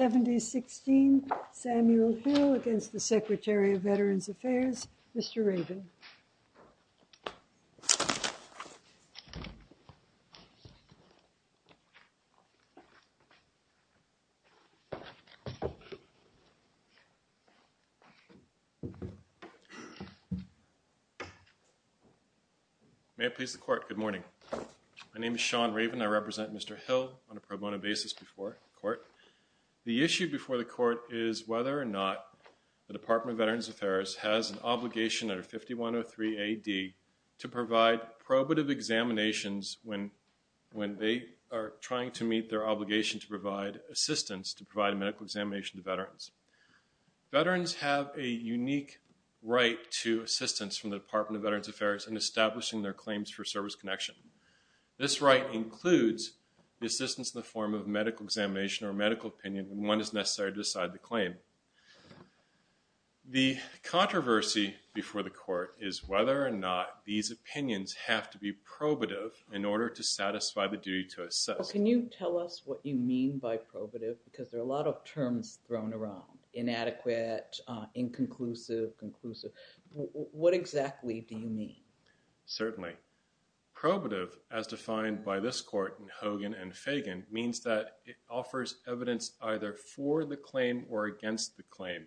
70-16 Samuel Hill against the Secretary of Veterans Affairs, Mr. Raven. May it please the Court, good morning. My name is Sean Raven. I represent Mr. Hill on a pro bono basis before the Court. The issue before the Court is whether or not the Department of Veterans Affairs has an obligation under 5103 AD to provide probative examinations when they are trying to meet their obligation to provide assistance to provide a medical examination to veterans. Veterans have a unique right to assistance from the Department of Veterans Affairs in establishing their claims for service connection. This right includes assistance in the form of medical examination or medical opinion when one is necessary to decide the claim. The controversy before the Court is whether or not these opinions have to be probative in order to satisfy the duty to assess. Can you tell us what you mean by probative because there are a lot of terms thrown around, inadequate, inconclusive, conclusive. What exactly do you mean? Certainly. Probative as defined by this Court in Hogan and Fagan means that it offers evidence either for the claim or against the claim.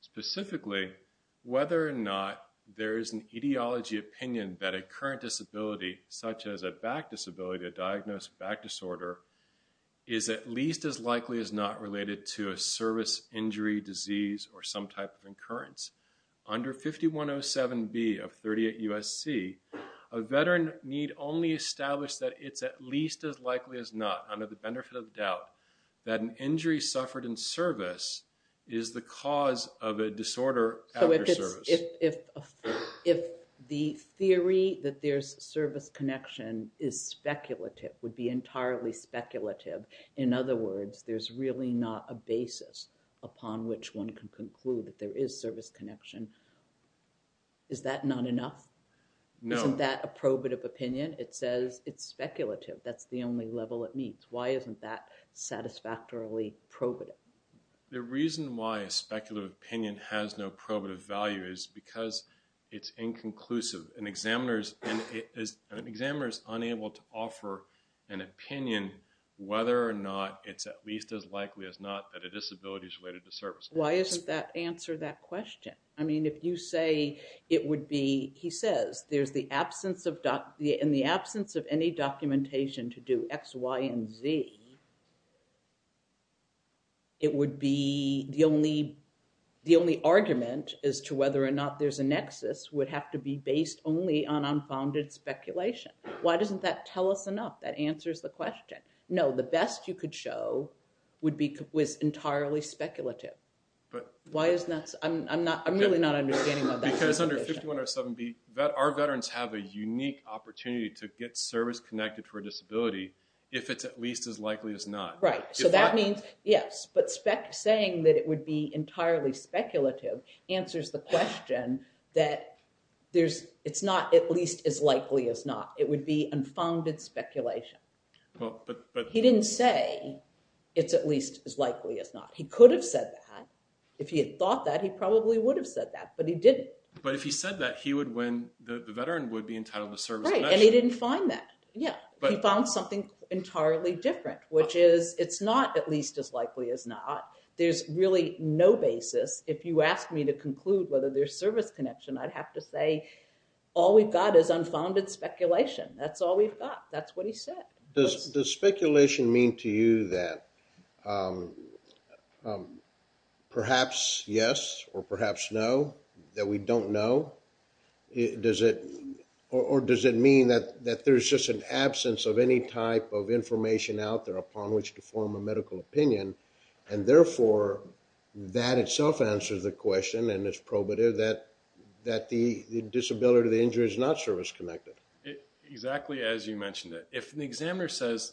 Specifically, whether or not there is an etiology opinion that a current disability such as a back disability, a diagnosed back disorder is at least as likely as not related to a service injury, disease, or some type of occurrence. Under 5107B of 38 U.S.C., a veteran need only establish that it's at least as likely as not under the benefit of doubt that an injury suffered in service is the cause of a disorder. So, if the theory that there's service connection is speculative, would be entirely speculative. In other words, there's really not a basis upon which one can conclude that there is service connection. Is that not enough? No. Isn't that a probative opinion? It says it's speculative. That's the only level it meets. Why isn't that satisfactorily probative? The reason why a speculative opinion has no probative value is because it's inconclusive. An examiner is unable to offer an opinion whether or not it's at least as likely as not that a disability is related to service connection. Why isn't that answer that question? I mean, if you say it would be, he says, in the absence of any documentation to do X, Y, and Z, it would be the only argument as to whether or not there's a nexus would have to be based only on unfounded speculation. Why doesn't that tell us enough? That answers the question. No, the best you could show was entirely speculative. I'm really not understanding about that. Because under 5107B, our veterans have a unique opportunity to get service connected for a disability if it's at least as likely as not. Right. So, that means, yes, but saying that it would be entirely speculative answers the question that it's not at least as likely as not. It would be unfounded speculation. He didn't say it's at least as likely as not. He could have said that. If he had thought that, he probably would have said that, but he didn't. But if he said that, he would win, the veteran would be entitled to service connection. And he didn't find that. Yeah. He found something entirely different, which is it's not at least as likely as not. There's really no basis. If you asked me to conclude whether there's connection, I'd have to say all we've got is unfounded speculation. That's all we've got. That's what he said. Does speculation mean to you that perhaps yes or perhaps no, that we don't know? Or does it mean that there's just an absence of any type of information out there upon which to form a medical opinion? And therefore, that itself answers the question, and it's probative that the disability, the injury is not service connected. Exactly as you mentioned it. If an examiner says,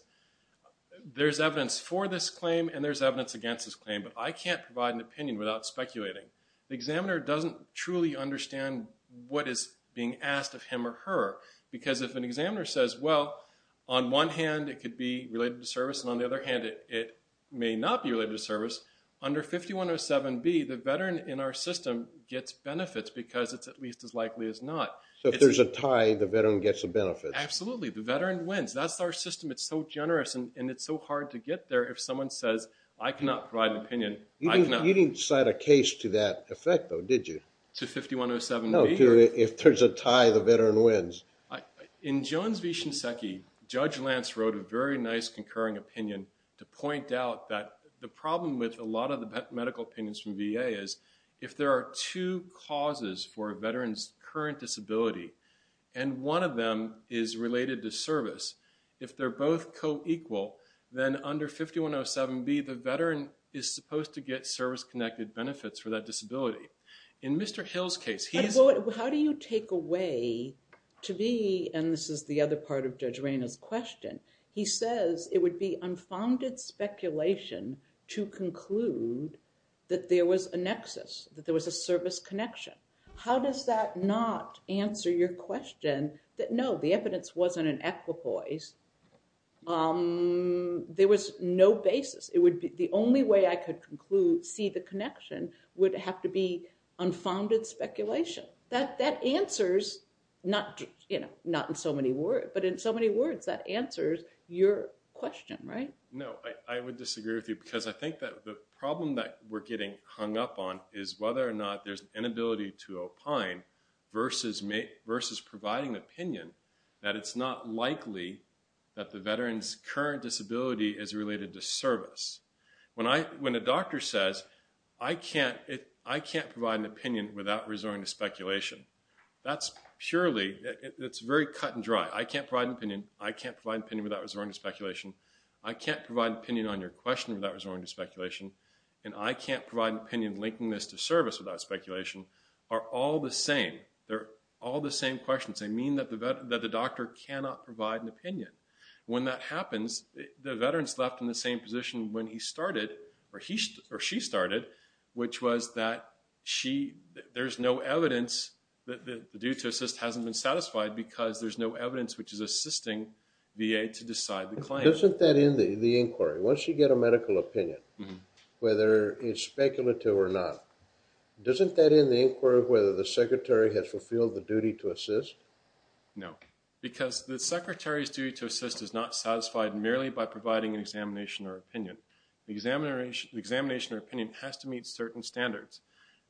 there's evidence for this claim and there's evidence against this claim, but I can't provide an opinion without speculating, the examiner doesn't truly understand what is being asked of him or her. Because if an examiner says, well, on one hand, it could be related to service, and on the other hand, it may not be related to service, under 5107B, the veteran in our system gets benefits because it's at least as likely as not. So if there's a tie, the veteran gets a benefit. Absolutely. The veteran wins. That's our system. It's so generous, and it's so hard to get there if someone says, I cannot provide an opinion. You didn't cite a case to that effect, though, did you? To 5107B? No, if there's a tie, the veteran wins. In Jones v. Shinseki, Judge Lance wrote a very nice concurring opinion to point out that the problem with a lot of the medical opinions from VA is, if there are two causes for a veteran's current disability, and one of them is related to service, if they're both co-equal, then under 5107B, the veteran is supposed to get service connected benefits for that disability. In Mr. Hill's case, he's... Well, how do you take away to be, and this is the other part of Judge Reyna's question, he says it would be unfounded speculation to conclude that there was a nexus, that there was a service connection. How does that not answer your question that no, the evidence wasn't an equipoise? There was no basis. It would be, the only way I could see the connection would have to be unfounded speculation. That answers, not in so many words, but in so many words, that answers your question, right? No, I would disagree with you because I think that the problem that we're getting hung up on is whether or not there's an inability to opine versus providing an opinion that it's not likely that the veteran's current disability is related to service. When a doctor says, I can't provide an opinion without resorting to speculation, that's purely, it's very cut and dry. I can't provide an opinion, I can't provide an opinion without resorting to speculation, I can't provide an opinion on your question without resorting to speculation, and I can't provide an opinion linking this to service without speculation, are all the same. They're all the same questions. They mean that the doctor cannot provide an opinion. When that happens, the veteran's left in the same position when he started or she started, which was that there's no evidence that the due to assist hasn't been satisfied because there's no evidence which is assisting VA to decide the claim. Isn't that in the inquiry? Once you get a medical opinion, whether it's speculative or not, doesn't that in the inquiry whether the secretary has fulfilled the duty to assist? No, because the secretary's duty to assist is not satisfied merely by providing an examination or opinion. Examination or opinion has to meet certain standards.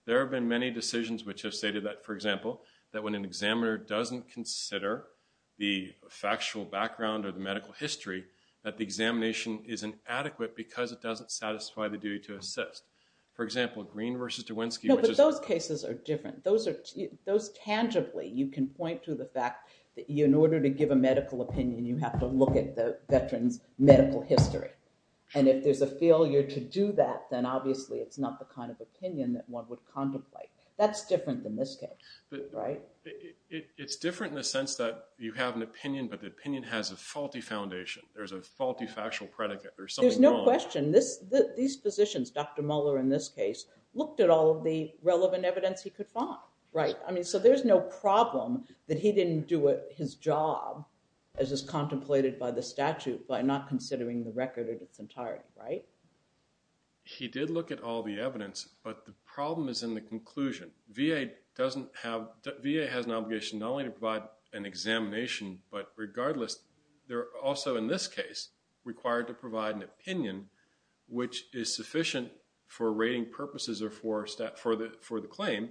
There have been many decisions which have stated that, for example, that when an examiner doesn't consider the factual background or the medical history, that the examination is inadequate because it doesn't satisfy the medical history. Those cases are different. Those tangibly, you can point to the fact that in order to give a medical opinion, you have to look at the veteran's medical history. If there's a failure to do that, then obviously it's not the kind of opinion that one would contemplate. That's different than this case. It's different in the sense that you have an opinion, but the opinion has a faulty foundation. There's a faulty factual predicate. There's something wrong. These physicians, Dr. Muller in this case, looked at all of the relevant evidence he could find. So there's no problem that he didn't do his job as is contemplated by the statute by not considering the record at its entirety. He did look at all the evidence, but the problem is in the conclusion. VA has an obligation not only to provide an examination, but regardless, they're also, in this case, required to provide an opinion which is sufficient for rating purposes or for the claim,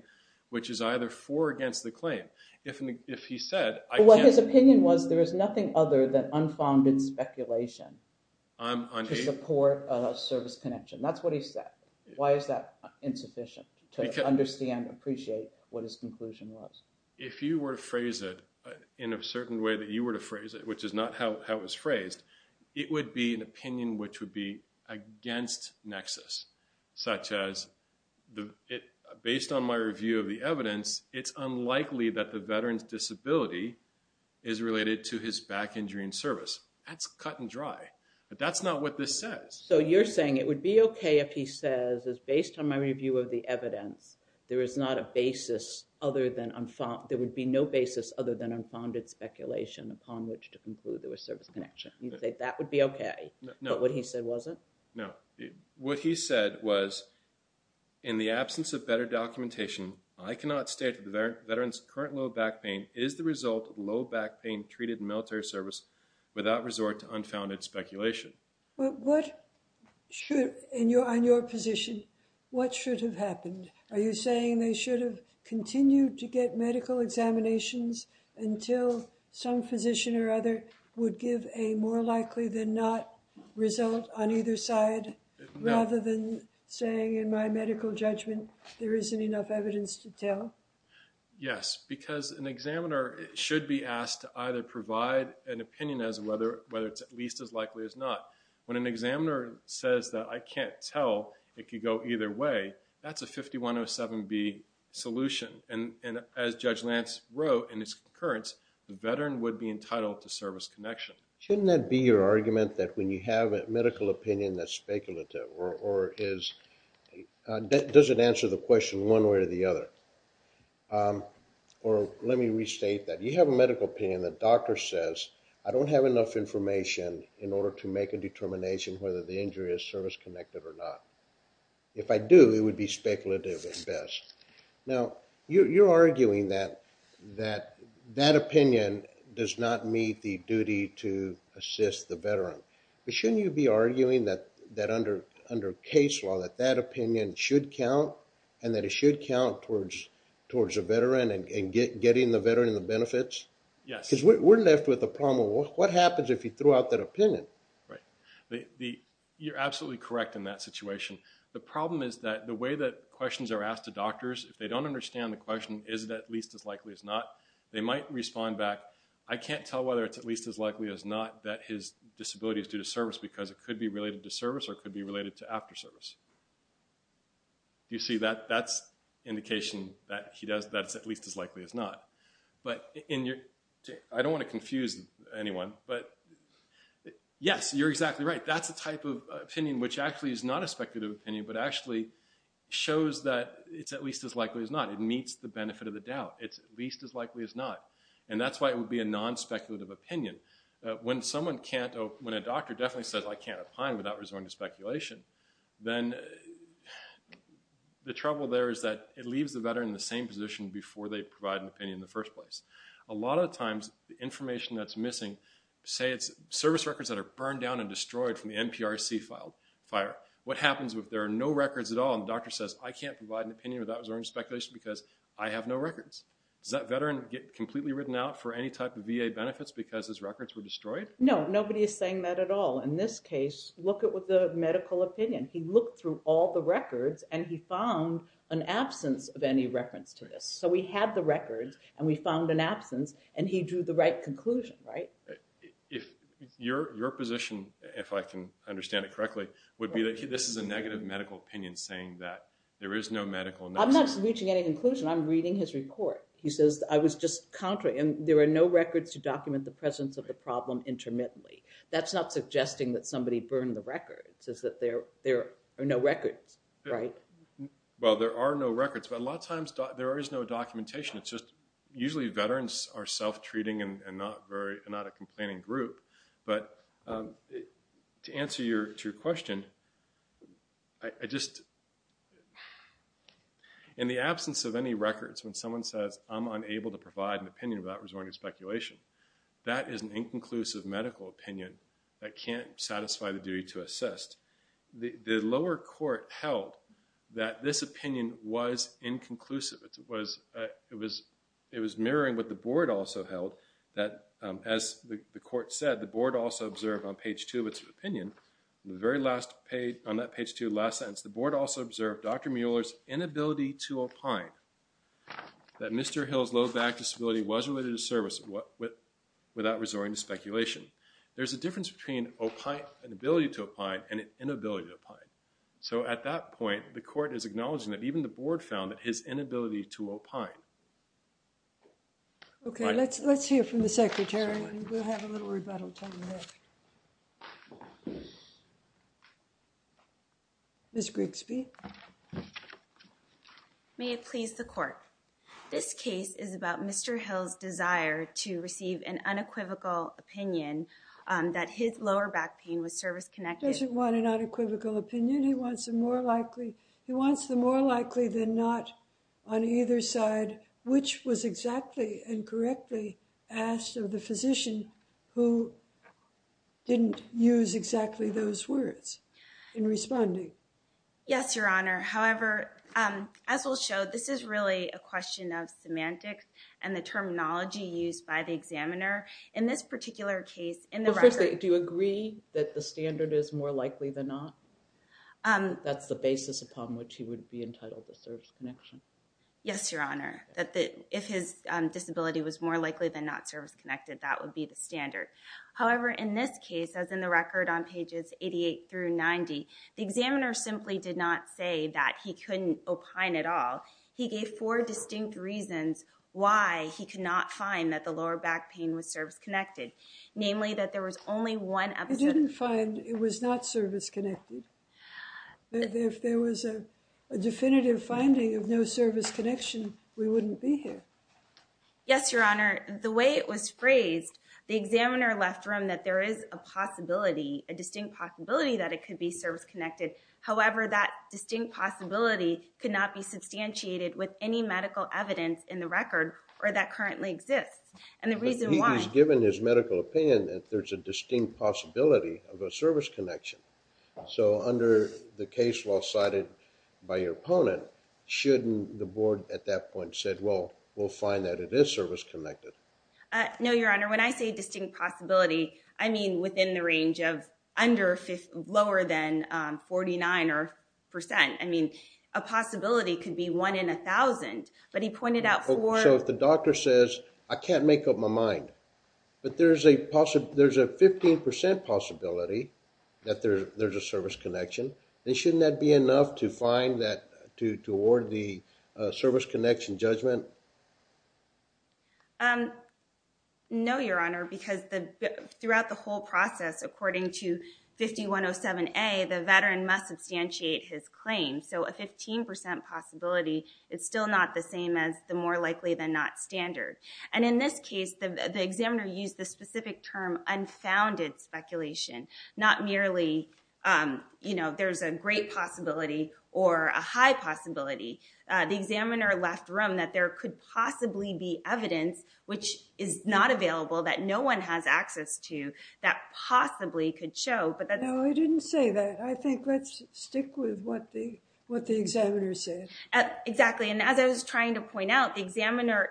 which is either for or against the claim. If he said- But what his opinion was, there is nothing other than unfounded speculation to support a service connection. That's what he said. Why is that insufficient to understand and appreciate what his conclusion was? If you were to phrase it in a certain way that you were to phrase it, which is not how it was phrased, it would be an opinion which would be against nexus, such as, based on my review of the evidence, it's unlikely that the veteran's disability is related to his back injury in service. That's cut and dry. But that's not what this says. So you're saying it would be okay if he says, it's based on my review of the evidence, there is not a basis other than unfound- Upon which to conclude there was service connection. You think that would be okay. No. But what he said wasn't? No. What he said was, in the absence of better documentation, I cannot state that the veteran's current low back pain is the result of low back pain treated in military service without resort to unfounded speculation. Well, what should, on your position, what should have happened? Are you saying they should have continued to get medical examinations until some physician or other would give a more likely than not result on either side, rather than saying, in my medical judgment, there isn't enough evidence to tell? Yes, because an examiner should be asked to either provide an opinion as to whether it's at least as likely as not. When an examiner says that I can't tell, it could go either way, that's a 5107B solution. And as Judge Lance wrote in his concurrence, the veteran would be entitled to service connection. Shouldn't that be your argument that when you have a medical opinion that's speculative or doesn't answer the question one way or the other? Or let me restate that. You have a medical opinion that doctor says, I don't have enough information in order to make a determination whether the speculative at best. Now, you're arguing that that opinion does not meet the duty to assist the veteran. But shouldn't you be arguing that under case law, that that opinion should count and that it should count towards a veteran and getting the veteran the benefits? Yes. Because we're left with a problem. What happens if you throw out that opinion? Right. You're absolutely correct in that situation. The problem is that the way that questions are asked to doctors, if they don't understand the question, is it at least as likely as not, they might respond back, I can't tell whether it's at least as likely as not that his disability is due to service because it could be related to service or could be related to after service. You see, that's indication that he does, that it's at least as likely as not. But I don't want to confuse anyone, but yes, you're exactly right. That's the type of opinion which actually is not a speculative opinion, but actually shows that it's at least as likely as not. It meets the benefit of the doubt. It's at least as likely as not. And that's why it would be a non-speculative opinion. When a doctor definitely says, I can't opine without resorting to speculation, then the trouble there is that it leaves the veteran in the same position before they provide an opinion in the first place. A lot of times, the information that's missing, say it's service records that are burned down and destroyed from the NPRC fire. What happens if there are no records at all and the doctor says, I can't provide an opinion without resorting to speculation because I have no records. Does that veteran get completely written out for any type of VA benefits because his records were destroyed? No, nobody is saying that at all. In this case, look at what the medical opinion. He looked through all the records and he found an absence of any reference to this. So we had the records and we found an absence and he drew the right conclusion, right? If your position, if I can understand it correctly, would be that this is a negative medical opinion saying that there is no medical analysis. I'm not reaching any conclusion. I'm reading his report. He says I was just contrary and there are no records to document the presence of the problem intermittently. That's not suggesting that somebody burned the records. A lot of times there is no documentation. It's just usually veterans are self-treating and not a complaining group. But to answer your question, in the absence of any records when someone says I'm unable to provide an opinion without resorting to speculation, that is an inconclusive medical opinion that can't satisfy the duty to assist. The lower court held that this opinion was inconclusive. It was mirroring what the board also held that as the court said, the board also observed on page two of its opinion, the very last page on that page two, last sentence, the board also observed Dr. Mueller's inability to opine that Mr. Hill's low back disability was related to service without resorting to speculation. There's a difference between opine, inability to opine and inability to opine. So at that point, the court is acknowledging that even the board found that his inability to opine. Okay, let's, let's hear from the secretary. Ms. Grigsby. May it please the court. This case is about Mr. Hill's desire to receive an unequivocal opinion that his lower back pain was service connected. He doesn't want an unequivocal opinion, he wants a more likely, he wants the more likely than not on either side, which was exactly and correctly asked of the physician who didn't use exactly those words in responding. Yes, your honor. However, as we'll show, this is really a question of semantics and the terminology used by the particular case in the record. But first, do you agree that the standard is more likely than not? That's the basis upon which he would be entitled to service connection. Yes, your honor, that the, if his disability was more likely than not service connected, that would be the standard. However, in this case, as in the record on pages 88 through 90, the examiner simply did not say that he couldn't opine at all. He gave four distinct reasons why he could not find that the lower back pain was service connected, namely that there was only one episode. He didn't find it was not service connected. If there was a definitive finding of no service connection, we wouldn't be here. Yes, your honor, the way it was phrased, the examiner left room that there is a possibility, a distinct possibility that it could be service connected. However, that distinct possibility could not be substantiated with any medical evidence in the record or that currently exists. And the reason why he was given his medical opinion that there's a distinct possibility of a service connection. So under the case law cited by your opponent, shouldn't the board at that point said, well, we'll find that it is service connected? No, your honor, when I say distinct possibility, I mean within the range of lower than 49 or percent. I mean, a possibility could be one in a thousand, but he pointed out. So if the doctor says, I can't make up my mind, but there's a 15% possibility that there's a service connection, then shouldn't that be enough to find that, to award the service connection judgment? No, your honor, because throughout the whole process, according to 5107A, the veteran must substantiate his claim. So a 15% possibility, it's still not the same as the more likely than not standard. And in this case, the examiner used the specific term unfounded speculation, not merely, there's a great possibility or a high possibility. The examiner left room that there could possibly be evidence, which is not available that no one has access to, that possibly could show. No, he didn't say that. I think let's stick with what the examiner said. Exactly. And as I was trying to point out, the examiner,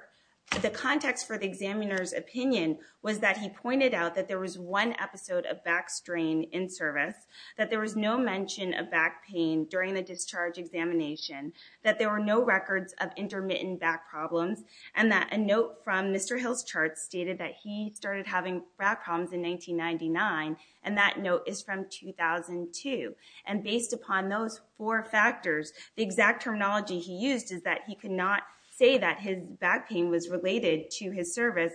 the context for the examiner's opinion was that he pointed out that there was one episode of back strain in service, that there was no mention of back pain during the discharge examination, that there were no records of intermittent back problems, and that a note from Mr. Hill's charts stated that he started having back problems in 1999. And that note is from 2002. And based upon those four factors, the exact terminology he used is that he could not say that his back pain was related to his service.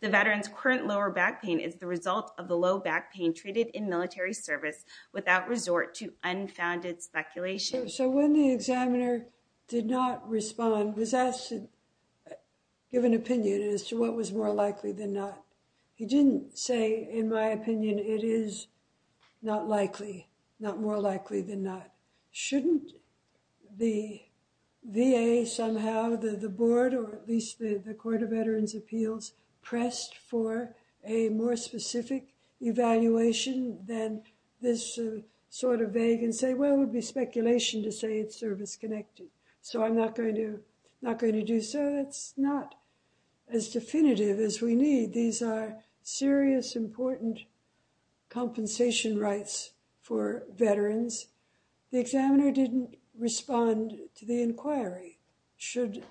The veteran's current lower back pain is the result of the low back pain treated in military service without resort to unfounded speculation. So when the examiner did not respond, was asked to give an opinion as to what was more likely than not. He didn't say, in my opinion, it is not likely, not more likely than not. Shouldn't the VA somehow, the board, or at least the this sort of vague and say, well, it would be speculation to say it's service-connected. So I'm not going to, not going to do so. That's not as definitive as we need. These are serious, important compensation rights for veterans. The examiner didn't respond to the inquiry. Should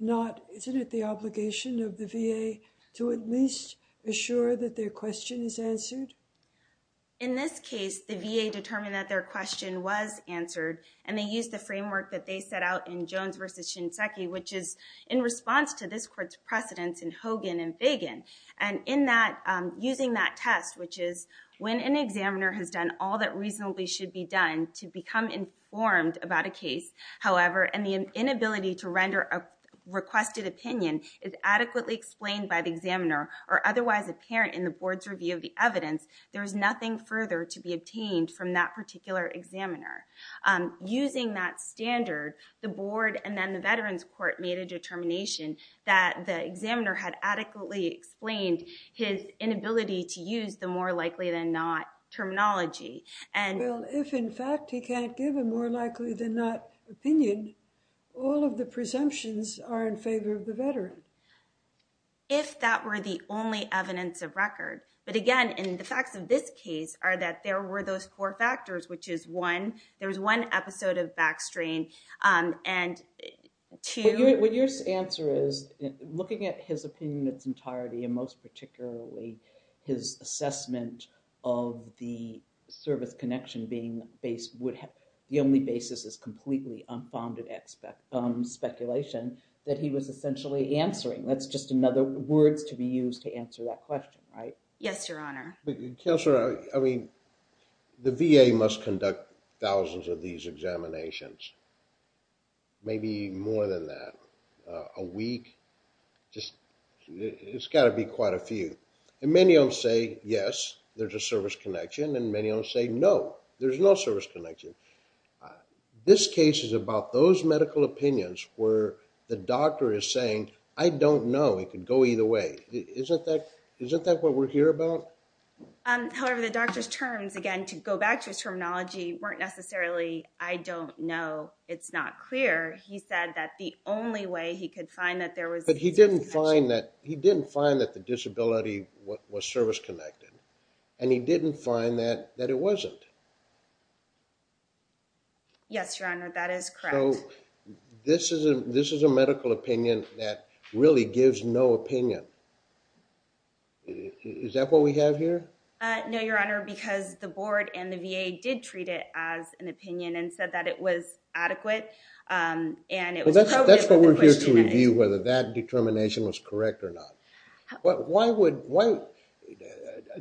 not, isn't it the obligation of the VA to at least assure that their question is answered? In this case, the VA determined that their question was answered and they used the framework that they set out in Jones versus Shinseki, which is in response to this court's precedence in Hogan and Fagan. And in that, using that test, which is when an examiner has done all that reasonably should be done to become informed about a case, however, and the inability to render a requested opinion is adequately explained by the examiner or otherwise apparent in the board's review of evidence, there's nothing further to be obtained from that particular examiner. Using that standard, the board and then the veterans court made a determination that the examiner had adequately explained his inability to use the more likely than not terminology. And if in fact he can't give a more likely than not opinion, all of the presumptions are in favor of the veteran. If that were the only evidence of record, but again, in the facts of this case are that there were those four factors, which is one, there was one episode of backstrain and two... What your answer is, looking at his opinion in its entirety and most particularly his assessment of the service connection being based... The only basis is completely unfounded speculation that he was essentially answering. That's just another words to be used to answer that question, right? Yes, your honor. Counselor, I mean, the VA must conduct thousands of these examinations, maybe more than that, a week. It's gotta be quite a few. And many of them say, yes, there's a service connection and many of them say, no, there's no service connection. This case is about those medical opinions where the doctor is saying, I don't know, it could go either way. Isn't that what we're here about? However, the doctor's terms, again, to go back to his terminology, weren't necessarily, I don't know, it's not clear. He said that the only way he could find that there was... But he didn't find that the disability was service connected and he didn't find that it wasn't. Yes, your honor, that is correct. So this is a medical opinion that really gives no opinion. Is that what we have here? No, your honor, because the board and the VA did treat it as an opinion and said that it was adequate and it was appropriate. That's what we're here to review, whether that determination was correct or not.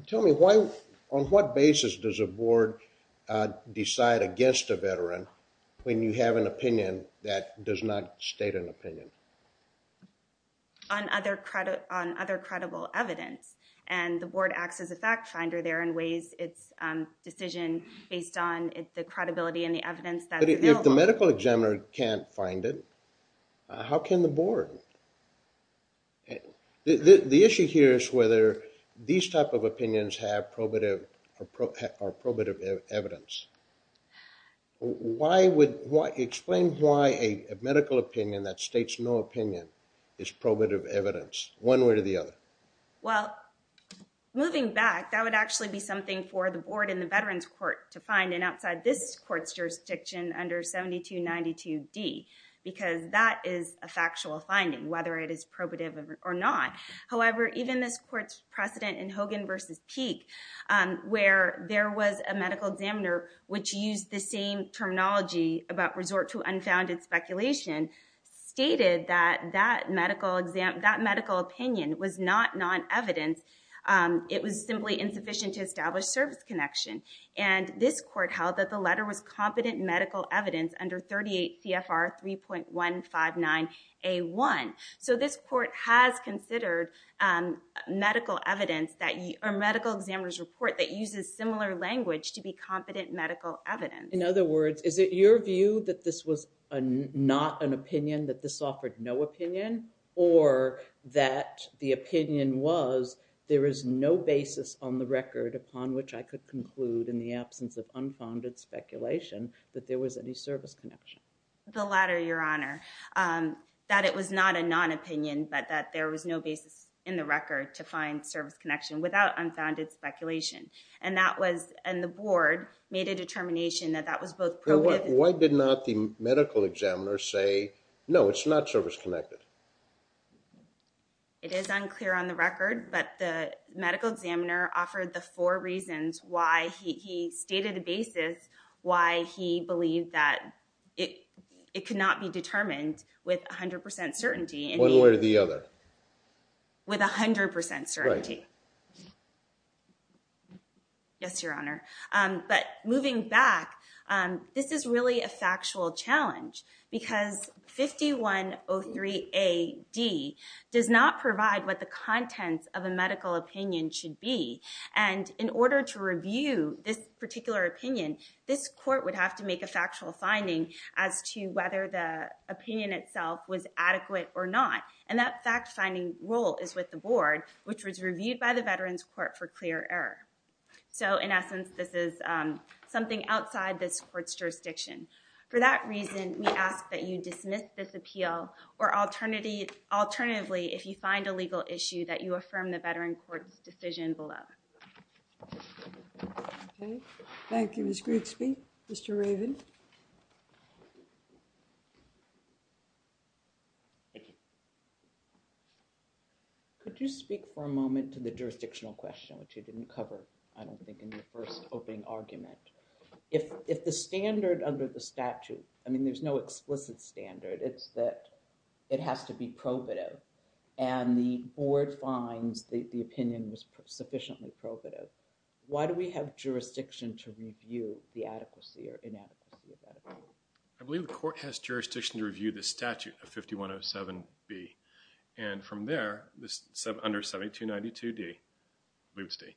Tell me, on what basis does a board decide against a veteran when you have an opinion that does not state an opinion? On other credible evidence. And the board acts as a fact finder there and weighs its decision based on the credibility and the evidence that's available. But if the medical examiner can't find it, how can the board? The issue here is whether these type of opinions have probative or probative evidence. Explain why a medical opinion that states no opinion is probative evidence, one way or the other. Well, moving back, that would actually be something for the board and the veterans court to find and outside this court's jurisdiction under 7292D, because that is a factual finding, whether it is probative or not. However, even this court's precedent in Hogan versus Peek, where there was a medical examiner which used the same terminology about resort to unfounded speculation, stated that that medical opinion was not non-evidence. It was simply insufficient to establish service connection. And this court held that the letter was competent medical evidence under 38 CFR 3.159A1. So this court has considered medical evidence or medical examiner's report that uses similar language to be competent medical evidence. In other words, is it your view that this was not an opinion, that this offered no opinion, or that the opinion was there is no basis on the record upon which I could conclude in the absence of unfounded speculation that there was any service connection? The latter, Your Honor. That it was not a non-opinion, but that there was no basis in the record to find service connection without unfounded speculation. And that was, and the board made a determination that that was both probative- Why did not the medical examiner say, no, it's not service connected? It is unclear on the record, but the medical examiner offered the four reasons why he stated the basis, why he believed that it could not be determined with 100% certainty. One way or the other. With 100% certainty. Yes, Your Honor. But moving back, this is really a factual challenge because 5103AD does not provide what the contents of a medical opinion should be. And in order to review this particular opinion, this court would have to make a factual finding as to whether the opinion itself was adequate or not. And that fact-finding role is with the board, which was reviewed by the Veterans Court for clear error. So, in essence, this is something outside this court's jurisdiction. For that reason, we ask that you dismiss this appeal or alternatively, if you find a legal issue, that you affirm the Veterans Court's decision below. Thank you, Ms. Grigsby. Mr. Raven. Could you speak for a moment to the jurisdictional question, which you didn't cover, I don't think, in your first opening argument? If the standard under the statute, I mean, there's no explicit standard. It's that it has to be probative. And the board finds that the opinion was sufficiently probative. Why do we have jurisdiction to review the adequacy or inadequacy? I believe the court has jurisdiction to review the statute of 5107B. And from there, under 7292D, I believe it's D,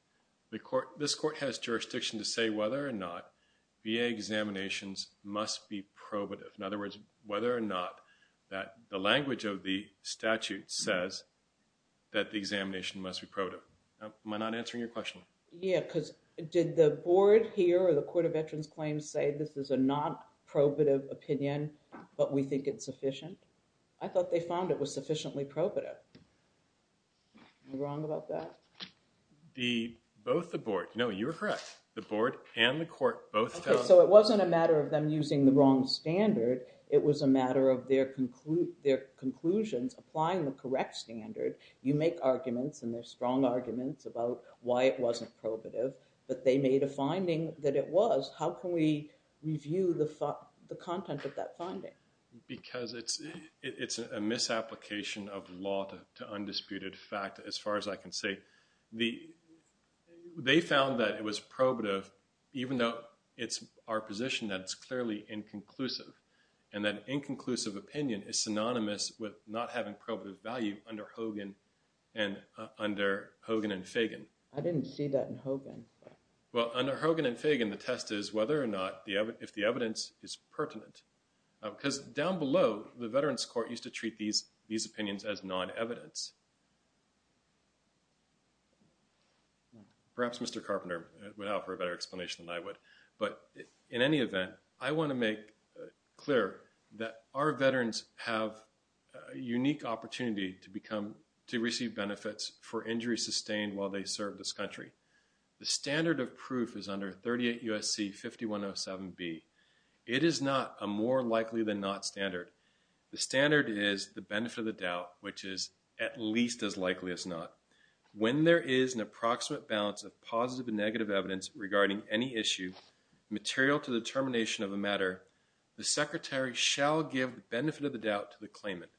this court has jurisdiction to say whether or not VA examinations must be probative. In other words, whether or not the language of the statute says that the examination must be probative. Am I not answering your question? Yeah, because did the board here or the Court of Veterans Claims say this is a non-probative opinion, but we think it's sufficient? I thought they found it was sufficiently probative. Am I wrong about that? Both the board. No, you were correct. The board and the court both found. OK, so it wasn't a matter of them using the wrong standard. It was a matter of their conclusions applying the correct standard. You make arguments, and they're strong arguments, about why it wasn't probative. But they made a finding that it was. How can we review the content of that finding? Because it's a misapplication of law to undisputed fact, as far as I can say. They found that it was probative, even though it's our position that it's clearly inconclusive. And that inconclusive opinion is synonymous with not having probative value under Hogan and under Hogan and Fagan. I didn't see that in Hogan. Well, under Hogan and Fagan, the test is whether or not if the evidence is pertinent. Because down below, the Veterans Court used to treat these opinions as non-evidence. Perhaps Mr. Carpenter would offer a better explanation than I would. But in any event, I want to make clear that our veterans have a unique opportunity to receive benefits for injuries sustained while they serve this country. The standard of proof is under 38 U.S.C. 5107B. It is not a more likely than not standard. The standard is the benefit of the doubt, which is at least as likely as not. When there is an approximate balance of positive and negative evidence regarding any issue, material to the termination of a matter, the Secretary shall give the benefit of the doubt to the claimant.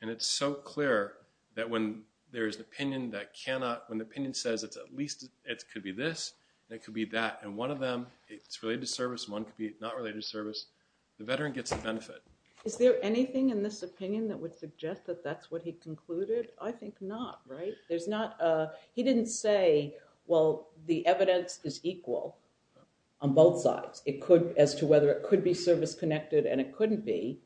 And it's so clear that when there is an opinion that cannot, when the opinion says it's at least, it could be this, it could be that, and one of them, it's related to service, one could be not related to service, the veteran gets the benefit. Is there anything in this opinion that would suggest that that's what he concluded? I think not, right? He didn't say, well, the evidence is equal on both sides. It could, as to whether it could be service-connected and it couldn't be,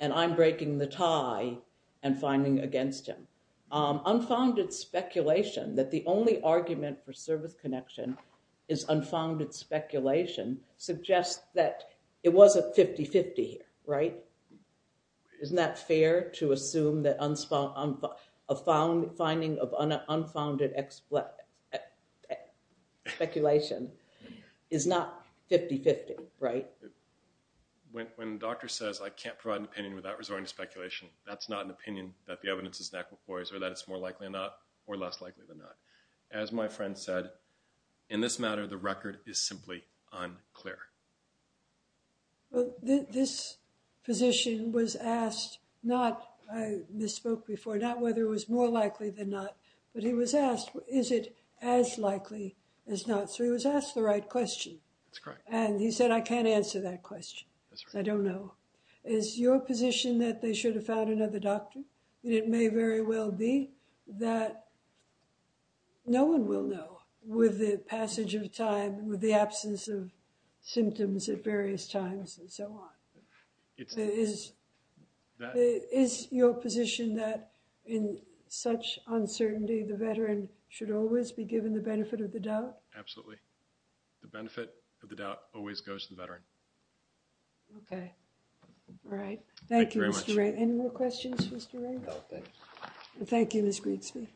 and I'm breaking the tie and finding against him. Unfounded speculation that the only argument for service connection is unfounded speculation suggests that it was a 50-50 here, right? Isn't that fair to assume that a finding of unfounded speculation is not 50-50, right? When the doctor says I can't provide an opinion without resorting to speculation, that's not an opinion that the evidence is inequal, or that it's more likely or less likely than not. As my friend said, in this matter, the record is simply unclear. Well, this physician was asked not, I misspoke before, not whether it was more likely than not, but he was asked, is it as likely as not? So he was asked the right question. That's correct. And he said, I can't answer that question, I don't know. Is your position that they should have found another doctor? And it may very well be that no one will know with the passage of time and with the absence of symptoms at various times and so on. Is your position that in such uncertainty, the veteran should always be given the benefit of the doubt? Absolutely. The benefit of the doubt always goes to the veteran. Okay. All right. Thank you, Mr. Ray. Any more questions, Mr. Ray? Thank you, Ms. Grigsby.